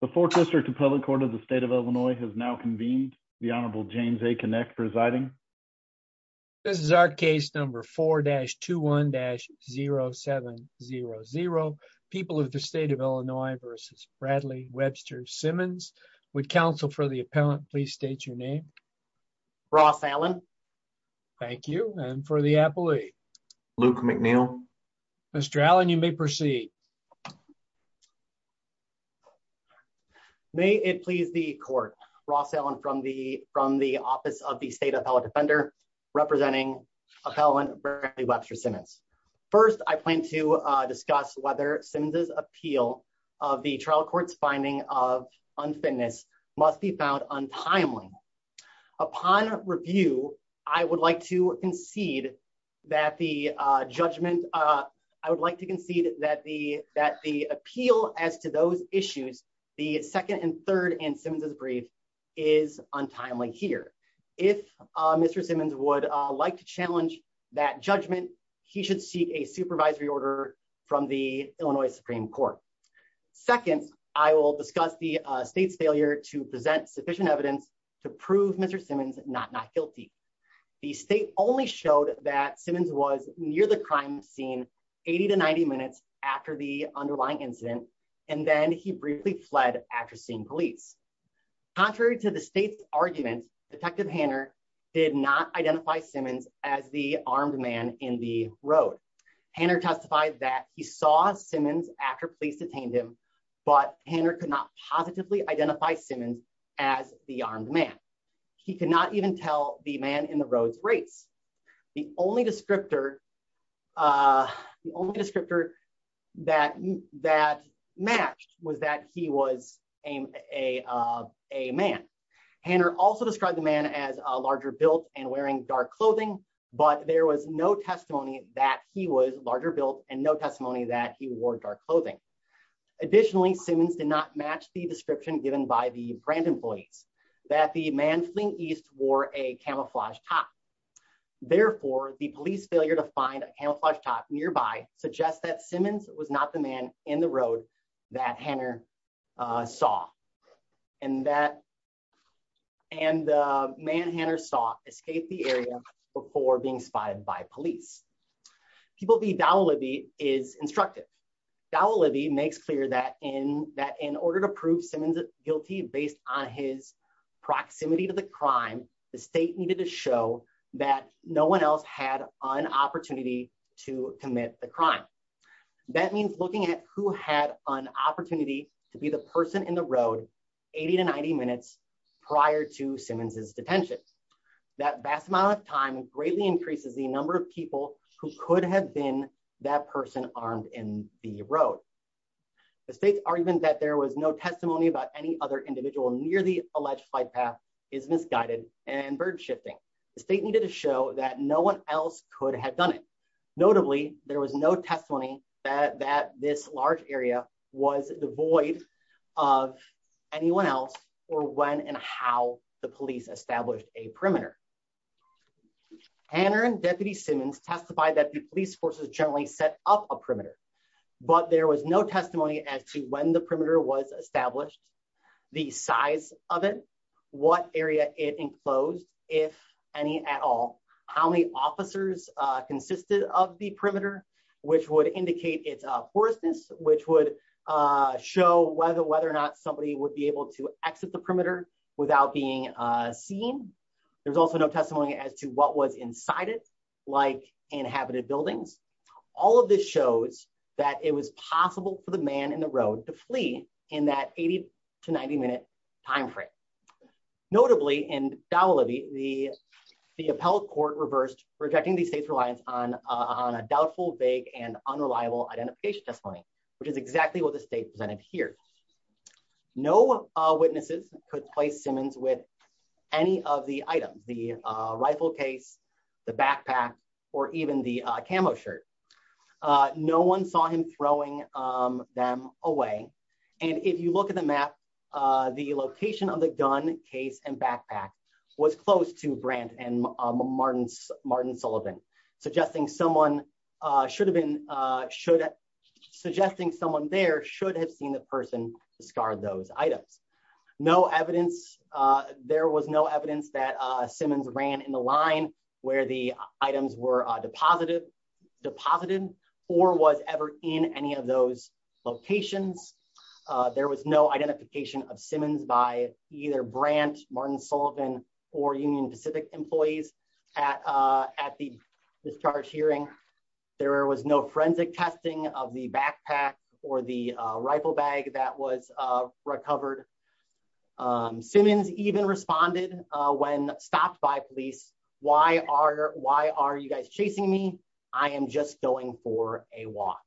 The Fourth District of Public Court of the State of Illinois has now convened. The Honorable James A. Kinect presiding. This is our case number 4-21-0700. People of the State of Illinois v. Bradley Webster Simmons. Would counsel for the appellant please state your name? Ross Allen. Thank you. And for the appellee? Luke McNeil. Mr. Allen, you may proceed. May it please the court. Ross Allen from the Office of the State Appellate Defender. Representing appellant Bradley Webster Simmons. First, I plan to discuss whether Simmons' appeal of the trial court's finding of unfitness must be found untimely. Upon review, I would like to concede that the judgment, I would like to concede that the appeal as to those issues, the second and third in Simmons' brief, is untimely here. If Mr. Simmons would like to challenge that judgment, he should seek a supervisory order from the Illinois Supreme Court. Second, I will discuss the state's failure to present sufficient evidence to prove Mr. Simmons not not guilty. The state only showed that Simmons was near the crime scene 80 to 90 minutes after the underlying incident, and then he briefly fled after seeing police. Contrary to the state's argument, Detective Hanner did not identify Simmons as the armed man in the road. Hanner testified that he saw Simmons after police detained him, but Hanner could not positively identify Simmons as the armed man. He could not even tell the man in the road's race. The only descriptor, the only descriptor that matched was that he was a man. Hanner also described the man as a larger built and wearing dark clothing, but there was no testimony that he was larger built and no testimony that he wore dark clothing. Additionally, Simmons did not match the description given by the Brandon police that the man fleeing east wore a camouflage top. Therefore, the police failure to find a camouflage top nearby suggests that Simmons was not the man in the road that Hanner saw, and that, and the man Hanner saw escape the area before being spotted by police. People v. Dowell-Libby is instructive. Dowell-Libby makes clear that in, that in order to prove Simmons guilty based on his proximity to the crime, the state needed to show that no one else had an opportunity to commit the crime. That means looking at who had an opportunity to be the person in the road 80 to 90 minutes prior to Simmons's detention. That vast amount of time greatly increases the number of people who could have been that person armed in the road. The state's argument that there was no testimony about any other individual near the alleged fight path is misguided and burden shifting. The state needed to show that no one else could have done it. Notably, there was no testimony that this large area was devoid of anyone else, or when and how the police established a perimeter. Hanner and Deputy Simmons testified that the police forces generally set up a perimeter, but there was no testimony as to when the perimeter was established, the size of it, what area it enclosed, if any at all, how many officers consisted of the perimeter, which would indicate its porousness, which would show whether or not somebody would be able to exit the perimeter without being seen. There's also no testimony as to what was inside it, like inhabited buildings. All of this shows that it was possible for the man in the road to flee in that 80 to 90 minute timeframe. Notably, in Dawa Libby, the appellate court reversed rejecting the state's reliance on a doubtful, vague, and unreliable identification testimony, which is exactly what the state presented here. No witnesses could place Simmons with any of the items, the rifle case, the backpack, or even the camo shirt. No one saw him throwing them away, and if you look at the map, the location of the gun, case, and backpack was close to Brandt and Martin Sullivan, suggesting someone there should have seen the person discard those items. There was no evidence that Simmons ran in the line where the items were deposited or was ever in any of those locations. There was no identification of Simmons by either Brandt, Martin Sullivan, or Union Pacific employees at the discharge hearing. There was no forensic testing of the backpack or the rifle bag that was recovered. Simmons even responded when stopped by police, why are you guys chasing me? I am just going for a walk.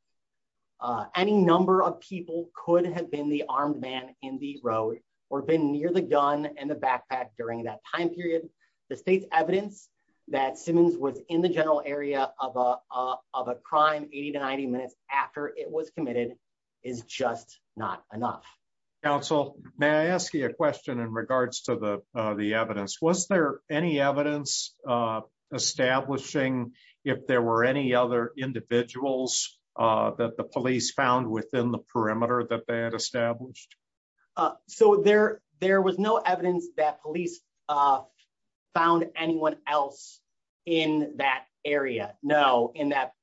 Any number of people could have been the armed man in the road or been near the gun and the backpack during that time period. The state's evidence that Simmons was in the general area of a crime 80 to 90 minutes after it was committed is just not enough. Counsel, may I ask you a question in regards to the evidence? Was there any evidence establishing if there were any other individuals that the police found within the perimeter that they had established? There was no evidence that police found anyone else in that area, no, in that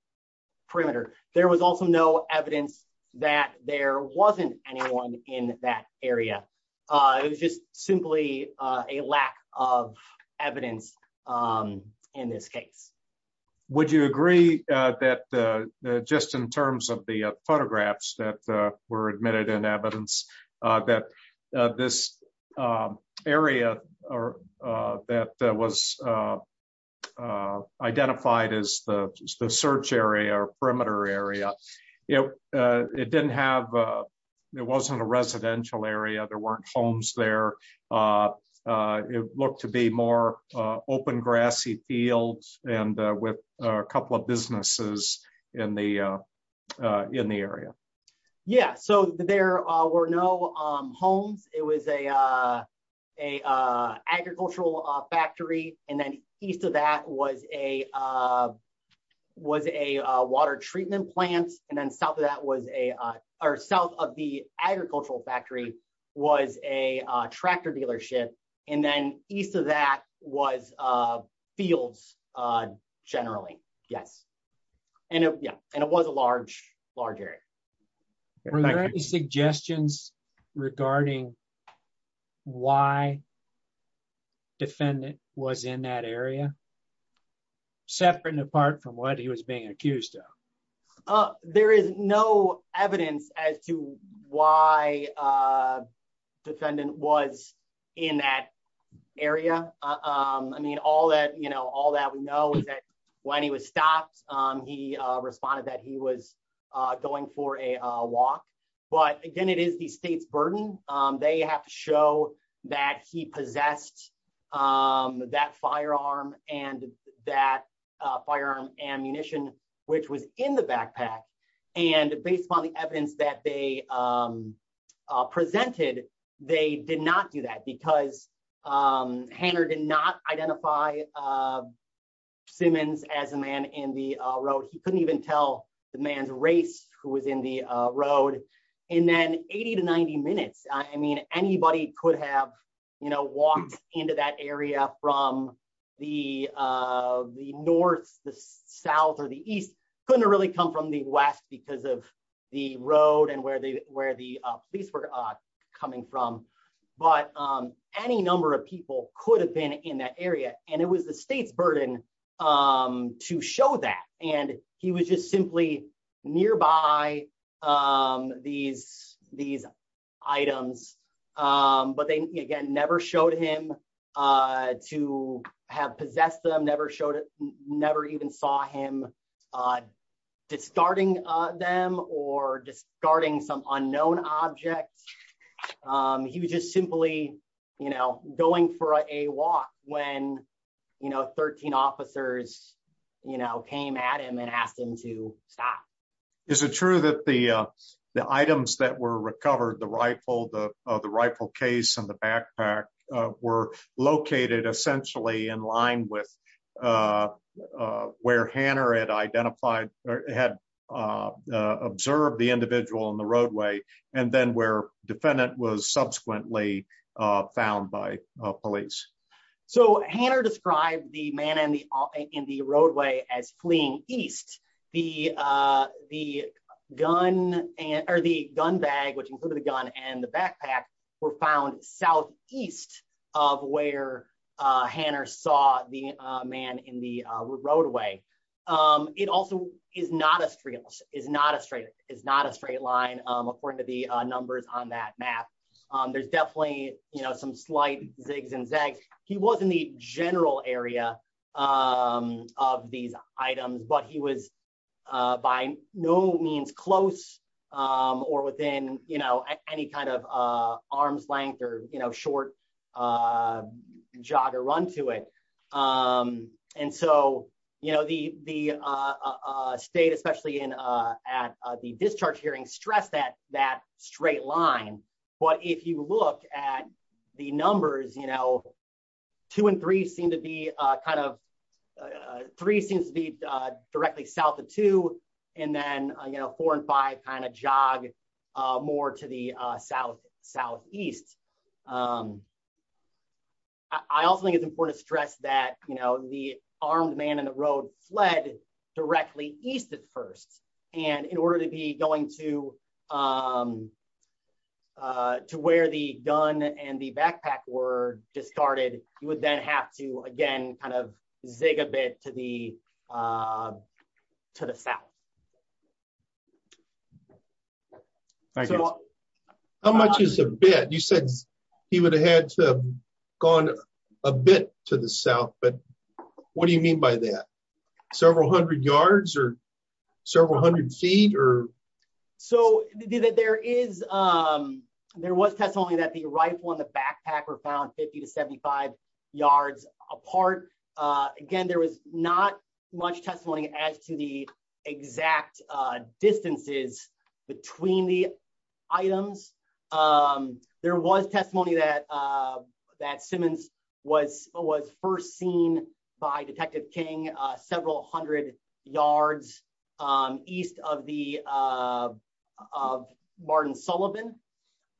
perimeter. There was also no evidence that there wasn't anyone in that area. It was just simply a lack of evidence in this case. Would you agree that just in terms of the photographs that were admitted in evidence that this area that was identified as the search area or perimeter area, it didn't have, it wasn't a residential area, there weren't homes there. It looked to be more open grassy fields and with a couple of businesses in the area. Yeah, so there were no homes. It was a agricultural factory. And then east of that was a water treatment plant. And then south of that was a, or south of the agricultural factory was a tractor dealership. And then east of that was fields. Generally, yes. And yeah, and it was a large, large area. Suggestions regarding why defendant was in that area, separate and apart from what he was being accused of. There is no evidence as to why defendant was in that area. I mean, all that, you know, all that we know is that when he was stopped, he responded that he was going for a walk. But again, it is the state's burden. They have to show that he possessed that firearm and that firearm ammunition, which was in the backpack. And based on the evidence that they presented, they did not do that because Hannah did not identify Simmons as a man in the road. He couldn't even tell the man's race who was in the road. And then 80 to 90 minutes. I mean, anybody could have, you know, walked into that area from the north, the south or the east. Couldn't really come from the west because of the road and where the police were coming from. But any number of people could have been in that area. And it was the state's burden to show that. And he was just simply nearby these items. But they again never showed him to have possessed them, never showed it, never even saw him discarding them or discarding some unknown objects. He was just simply, you know, going for a walk when, you know, 13 officers, you know, came at him and asked him to stop. Is it true that the items that were recovered, the rifle, the rifle case and the backpack were located essentially in line with where Hannah had identified or had observed the individual on the roadway. And then where defendant was subsequently found by police. So, Hannah described the man in the in the roadway as fleeing east. The, the gun and or the gun bag which included the gun and the backpack were found southeast of where Hannah saw the man in the roadway. It also is not a street is not a straight is not a straight line, according to the numbers on that map. There's definitely, you know, some slight zigs and zags. He was in the general area of these items, but he was by no means close or within, you know, any kind of arm's length or, you know, short jog or run to it. And so, you know, the, the state especially in at the discharge hearing stress that that straight line. But if you look at the numbers, you know, two and three seem to be kind of three seems to be directly south of two, and then, you know, four and five kind of jog more to the south, southeast. I also think it's important to stress that, you know, the armed man in the road fled directly east at first, and in order to be going to, to where the gun and the backpack were discarded, you would then have to again kind of zig a bit to the, to the south. So, how much is a bit you said he would have had to gone a bit to the south but what do you mean by that several hundred yards or several hundred feet or. So, there is, there was testimony that the right one the backpacker found 50 to 75 yards apart. Again, there was not much testimony as to the exact distances between the items. There was testimony that that Simmons was was first seen by Detective King several hundred yards east of the Martin Sullivan.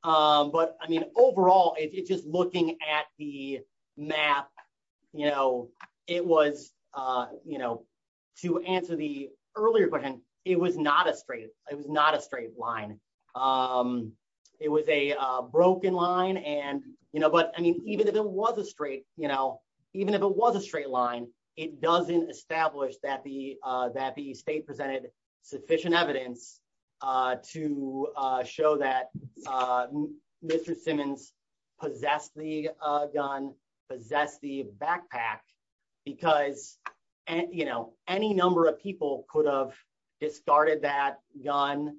But I mean, overall, it's just looking at the map, you know, it was, you know, to answer the earlier question, it was not a straight, it was not a straight line. It was a broken line and, you know, but I mean, even if it was a straight, you know, even if it was a straight line, it doesn't establish that the, that the state presented sufficient evidence to show that. Mr Simmons possess the gun possess the backpack, because, and you know, any number of people could have discarded that gun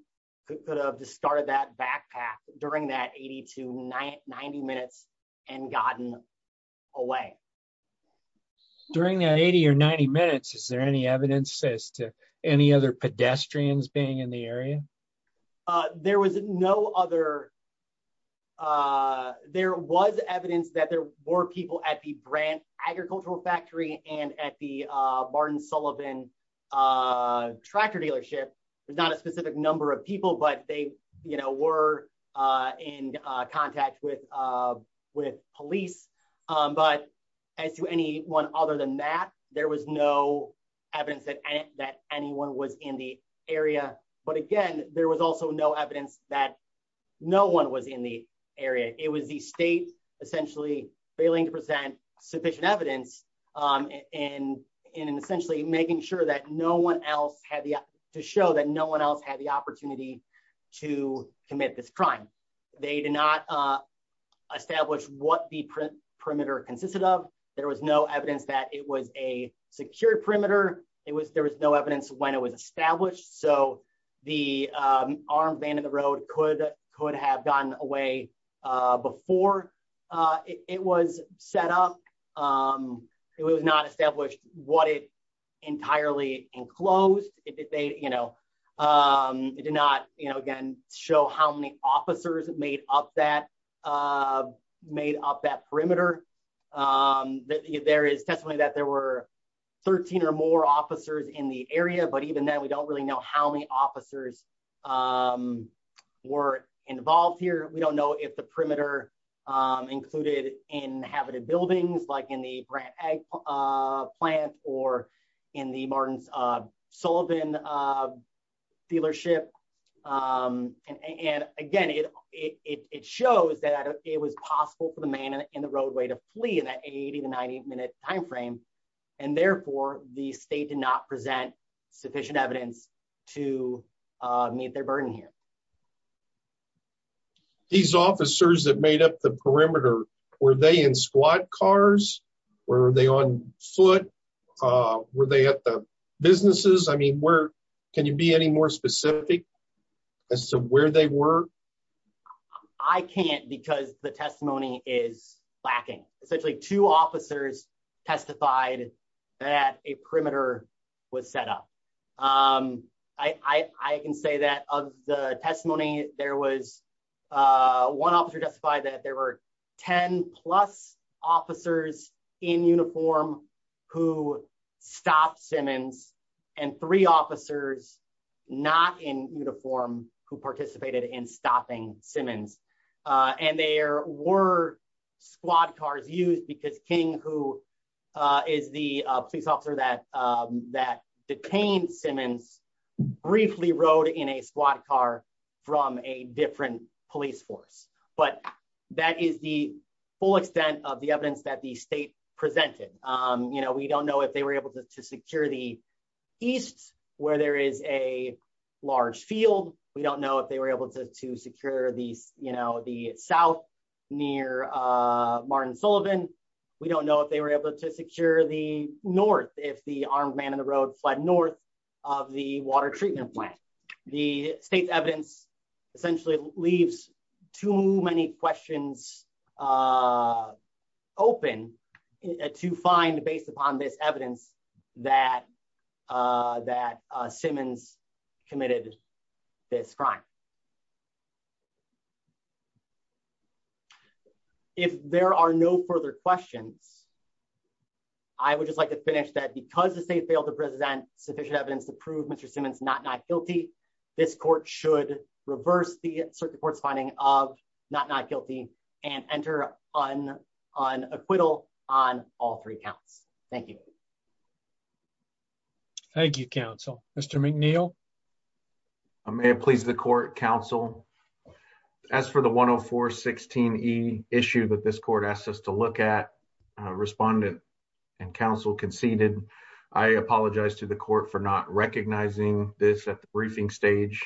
could have discarded that backpack during that at to nine 90 minutes and gotten away. During that at or 90 minutes Is there any evidence says to any other pedestrians being in the area. There was no other. There was evidence that there were people at the brand agricultural factory and at the Martin Sullivan. Tractor dealership. There's not a specific number of people but they, you know, were in contact with with police, but as to any one other than that, there was no evidence that that anyone was in the area, but again, there was also no evidence that no one was in the area, it was the state, essentially, failing to present sufficient evidence and in essentially making sure that no one else had the to show that no one else had the opportunity to commit this crime. They did not establish what the perimeter consisted of. There was no evidence that it was a secure perimeter, it was there was no evidence when it was established so the arm band in the road could could have gotten away. Before it was set up. It was not established what it entirely enclosed it did they, you know, did not, you know, again, show how many officers made up that made up that perimeter. There is definitely that there were 13 or more officers in the area but even then we don't really know how many officers were involved here we don't know if the perimeter included in habited buildings like in the grant a plant, or in the Martin Sullivan dealership. And again, it, it shows that it was possible for the man in the roadway to flee in that 80 to 90 minute timeframe. And therefore, the state did not present sufficient evidence to meet their burden here. These officers that made up the perimeter, were they in squad cars, were they on foot. Were they at the businesses I mean where can you be any more specific as to where they were. I can't because the testimony is lacking, essentially two officers testified that a perimeter was set up. I can say that of the testimony, there was one officer justified that there were 10 plus officers in uniform, who stopped Simmons, and three officers, not in uniform, who participated in stopping Simmons. And there were squad cars used because King who is the police officer that that detained Simmons briefly rode in a squad car from a different police force, but that is the full extent of the evidence that the state presented, you know, we don't know if they were able to secure the east, where there is a large field, we don't know if they were able to to secure these, you know, the south near Martin Sullivan. We don't know if they were able to secure the north, if the armed man in the road flood north of the water treatment plant. The state's evidence essentially leaves too many questions open to find based upon this evidence that that Simmons committed this crime. Thank you. If there are no further questions. I would just like to finish that because the state failed to present sufficient evidence to prove Mr Simmons not not guilty. This court should reverse the circuit courts finding of not not guilty and enter on on acquittal on all three counts. Thank you. Thank you counsel, Mr McNeil. I may please the court counsel. As for the 104 16 he issued that this court asked us to look at respondent and counsel conceded. I apologize to the court for not recognizing this at the briefing stage.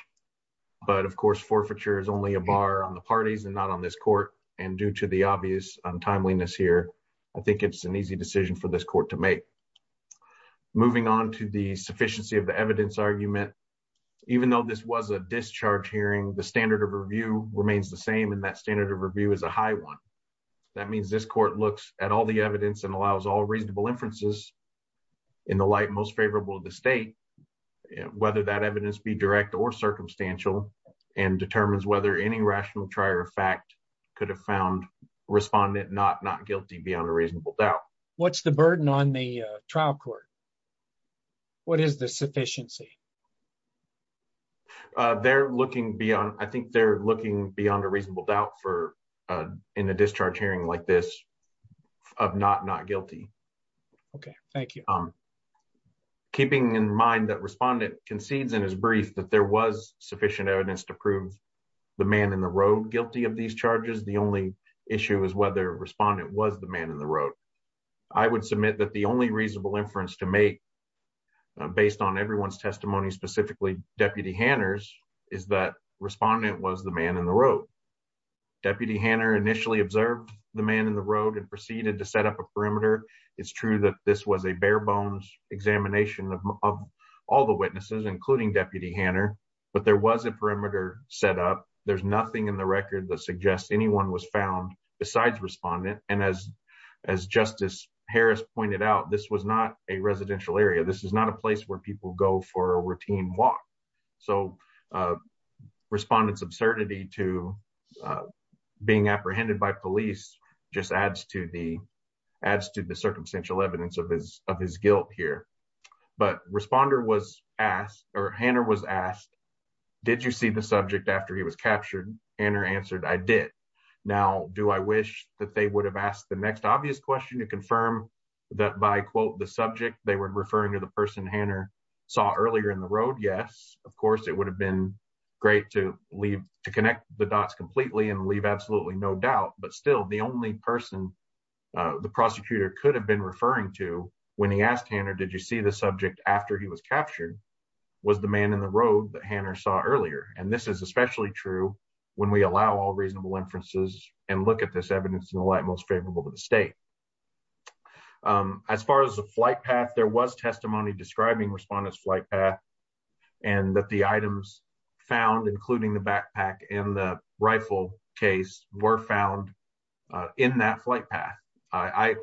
But of course forfeiture is only a bar on the parties and not on this court, and due to the obvious untimeliness here. I think it's an easy decision for this court to make. Moving on to the sufficiency of the evidence argument. Even though this was a discharge hearing the standard of review remains the same and that standard of review is a high one. That means this court looks at all the evidence and allows all reasonable inferences in the light most favorable the state, whether that evidence be direct or circumstantial and determines whether any rational trier fact could have found respondent not not guilty beyond a reasonable doubt. What's the burden on the trial court. What is the sufficiency. They're looking beyond I think they're looking beyond a reasonable doubt for in a discharge hearing like this, of not not guilty. Okay, thank you. I'm keeping in mind that respondent concedes in his brief that there was sufficient evidence to prove the man in the road guilty of these charges. The only issue is whether respondent was the man in the road. I would submit that the only reasonable inference to make. Based on everyone's testimony specifically Deputy Hannah's is that respondent was the man in the road. Deputy Hannah initially observed the man in the road and proceeded to set up a perimeter. It's true that this was a bare bones examination of all the witnesses including Deputy Hannah, but there was a perimeter set up, there's nothing in the record that suggests anyone was found besides respondent, and as, as Justice Harris pointed out this was not a residential area this is not a place where people go for a routine walk. So, respondents absurdity to being apprehended by police, just adds to the adds to the circumstantial evidence of his of his guilt here. But responder was asked, or Hannah was asked, did you see the subject after he was captured and or answered I did. Now, do I wish that they would have asked the next obvious question to confirm that by quote the subject they were referring to the person Hannah saw earlier in the road yes, of course it would have been great to leave to connect the dots completely and leave absolutely no doubt, but still the only person. The prosecutor could have been referring to when he asked Hannah Did you see the subject after he was captured was the man in the road that Hannah saw earlier, and this is especially true when we allow all reasonable inferences and look at this evidence in the light most favorable to the state. As far as the flight path there was testimony describing respondents flight path, and that the items found including the backpack and the rifle case were found in that flight path, I,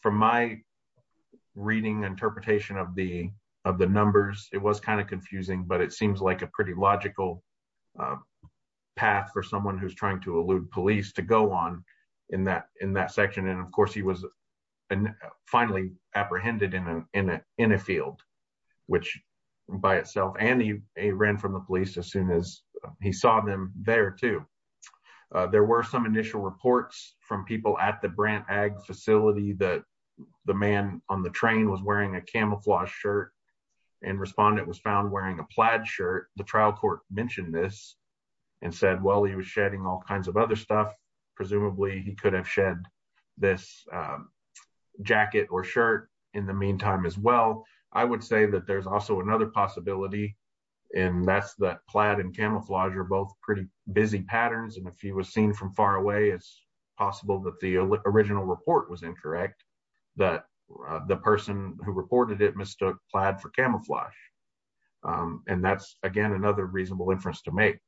from my reading interpretation of the, of the numbers, it was kind of confusing but it seems like a pretty logical path for someone who's trying to elude police to go on in that in that section and of course he was finally apprehended in a, in a, in a field, which by itself and he ran from the police as soon as he saw them there too. There were some initial reports from people at the brand ag facility that the man on the train was wearing a camouflage shirt and respond it was found wearing a plaid shirt, the trial court mentioned this and said well he was shedding all kinds of other stuff. Presumably he could have shed this jacket or shirt. In the meantime, as well, I would say that there's also another possibility. And that's the plaid and camouflage are both pretty busy patterns and if he was seen from far away as possible that the original report was incorrect, that the person who reported it Mr. Plaid for camouflage. And that's, again, another reasonable inference to make.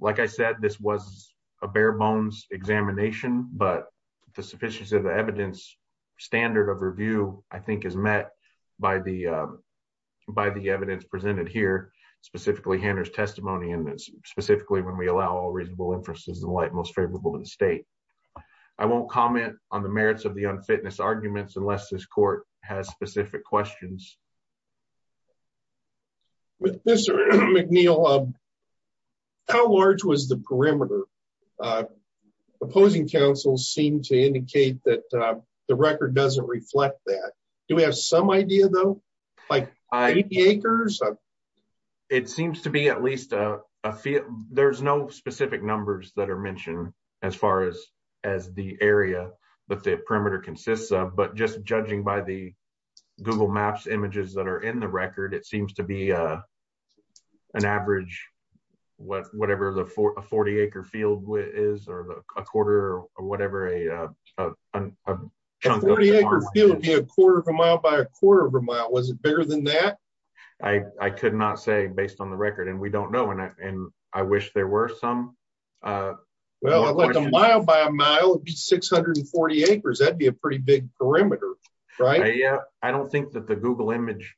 Like I said this was a bare bones examination, but the sufficiency of the evidence standard of review, I think is met by the by the evidence presented here, specifically handers testimony and specifically when we allow reasonable inferences the light most favorable in the state. I won't comment on the merits of the unfitness arguments unless this court has specific questions. With Mr. McNeil. How large was the perimeter. Opposing counsel seem to indicate that the record doesn't reflect that. Do we have some idea though, like acres. It seems to be at least a few, there's no specific numbers that are mentioned, as far as, as the area that the perimeter consists of but just judging by the Google Maps images that are in the record it seems to be an average. What, whatever the 40 acre field is or a quarter, or whatever a quarter of a mile by a quarter of a mile was bigger than that. I could not say based on the record and we don't know and I wish there were some. Well, a mile by a mile 640 acres that'd be a pretty big perimeter. Right. Yeah, I don't think that the Google image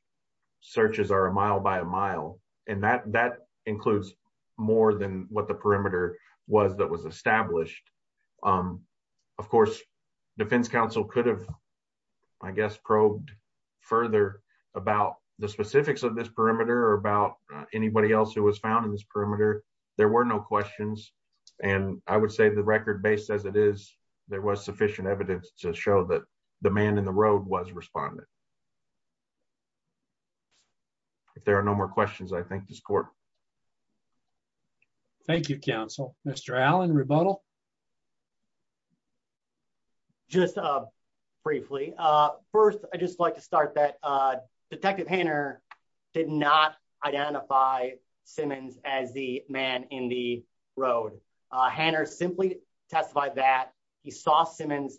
searches are a mile by a mile, and that that includes more than what the perimeter was that was established. Of course, defense counsel could have, I guess probed further about the specifics of this perimeter or about anybody else who was found in this perimeter, there were no questions. And I would say the record based as it is, there was sufficient evidence to show that the man in the road was responded. If there are no more questions I think this court. Thank you counsel, Mr Allen rebuttal. Just briefly. First, I just like to start that detective painter did not identify Simmons, as the man in the road. Hannah simply testified that he saw Simmons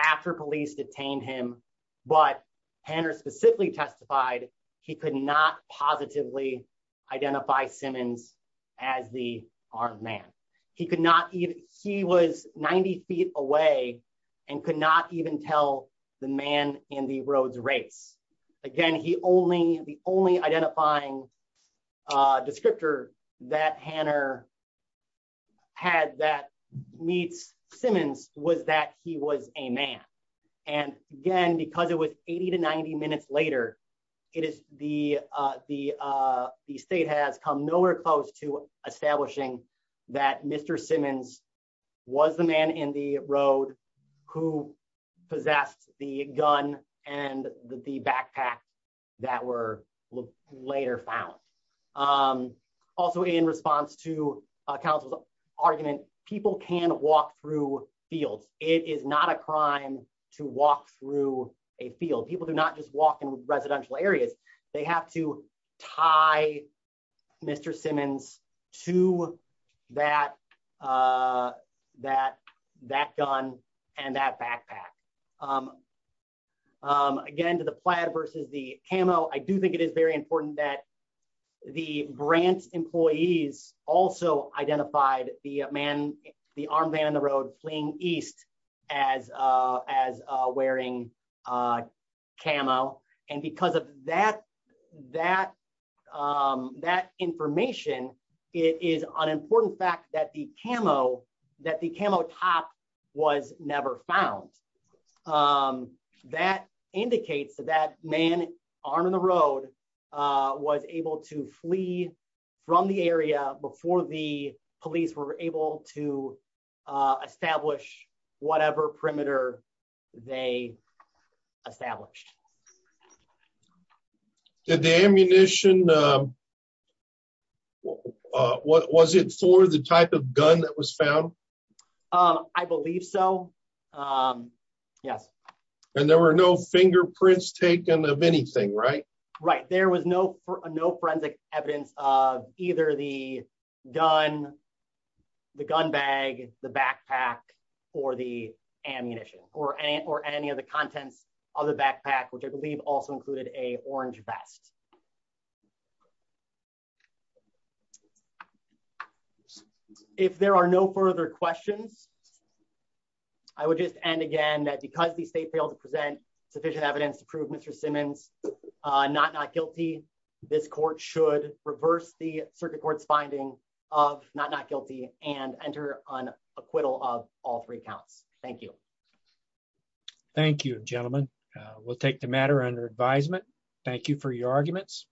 after police detained him, but Hannah specifically testified, he could not positively identify Simmons, as the arm man. He could not eat. He was 90 feet away and could not even tell the man in the roads race. Again, he only the only identifying descriptor that Hannah had that meets Simmons was that he was a man. And, again, because it was 80 to 90 minutes later, it is the, the, the state has come nowhere close to establishing that Mr Simmons was the man in the road, who possessed the gun, and the backpack that were later found. Also in response to counsel's argument, people can walk through fields, it is not a crime to walk through a field people do not just walk in residential areas, they have to tie. Mr Simmons to that, that, that gun, and that backpack. Again, to the plan versus the camo I do think it is very important that the grant employees also identified the man, the arm man in the road fleeing east as as wearing camo, and because of that, that, that information is an important fact that the camo that was never found. That indicates that that man on the road was able to flee from the area before the police were able to establish whatever perimeter. They established the ammunition. And then, what was it for the type of gun that was found. I believe so. Yes. And there were no fingerprints taken of anything right right there was no for no forensic evidence of either the gun. The gun bag, the backpack, or the ammunition, or any or any of the contents of the backpack which I believe also included a orange vest. Thank you. If there are no further questions. I would just end again that because the state failed to present sufficient evidence to prove Mr Simmons, not not guilty. This court should reverse the circuit courts finding of not not guilty and enter on acquittal of all three counts. Thank you. Thank you, gentlemen. We'll take the matter under advisement. Thank you for your arguments.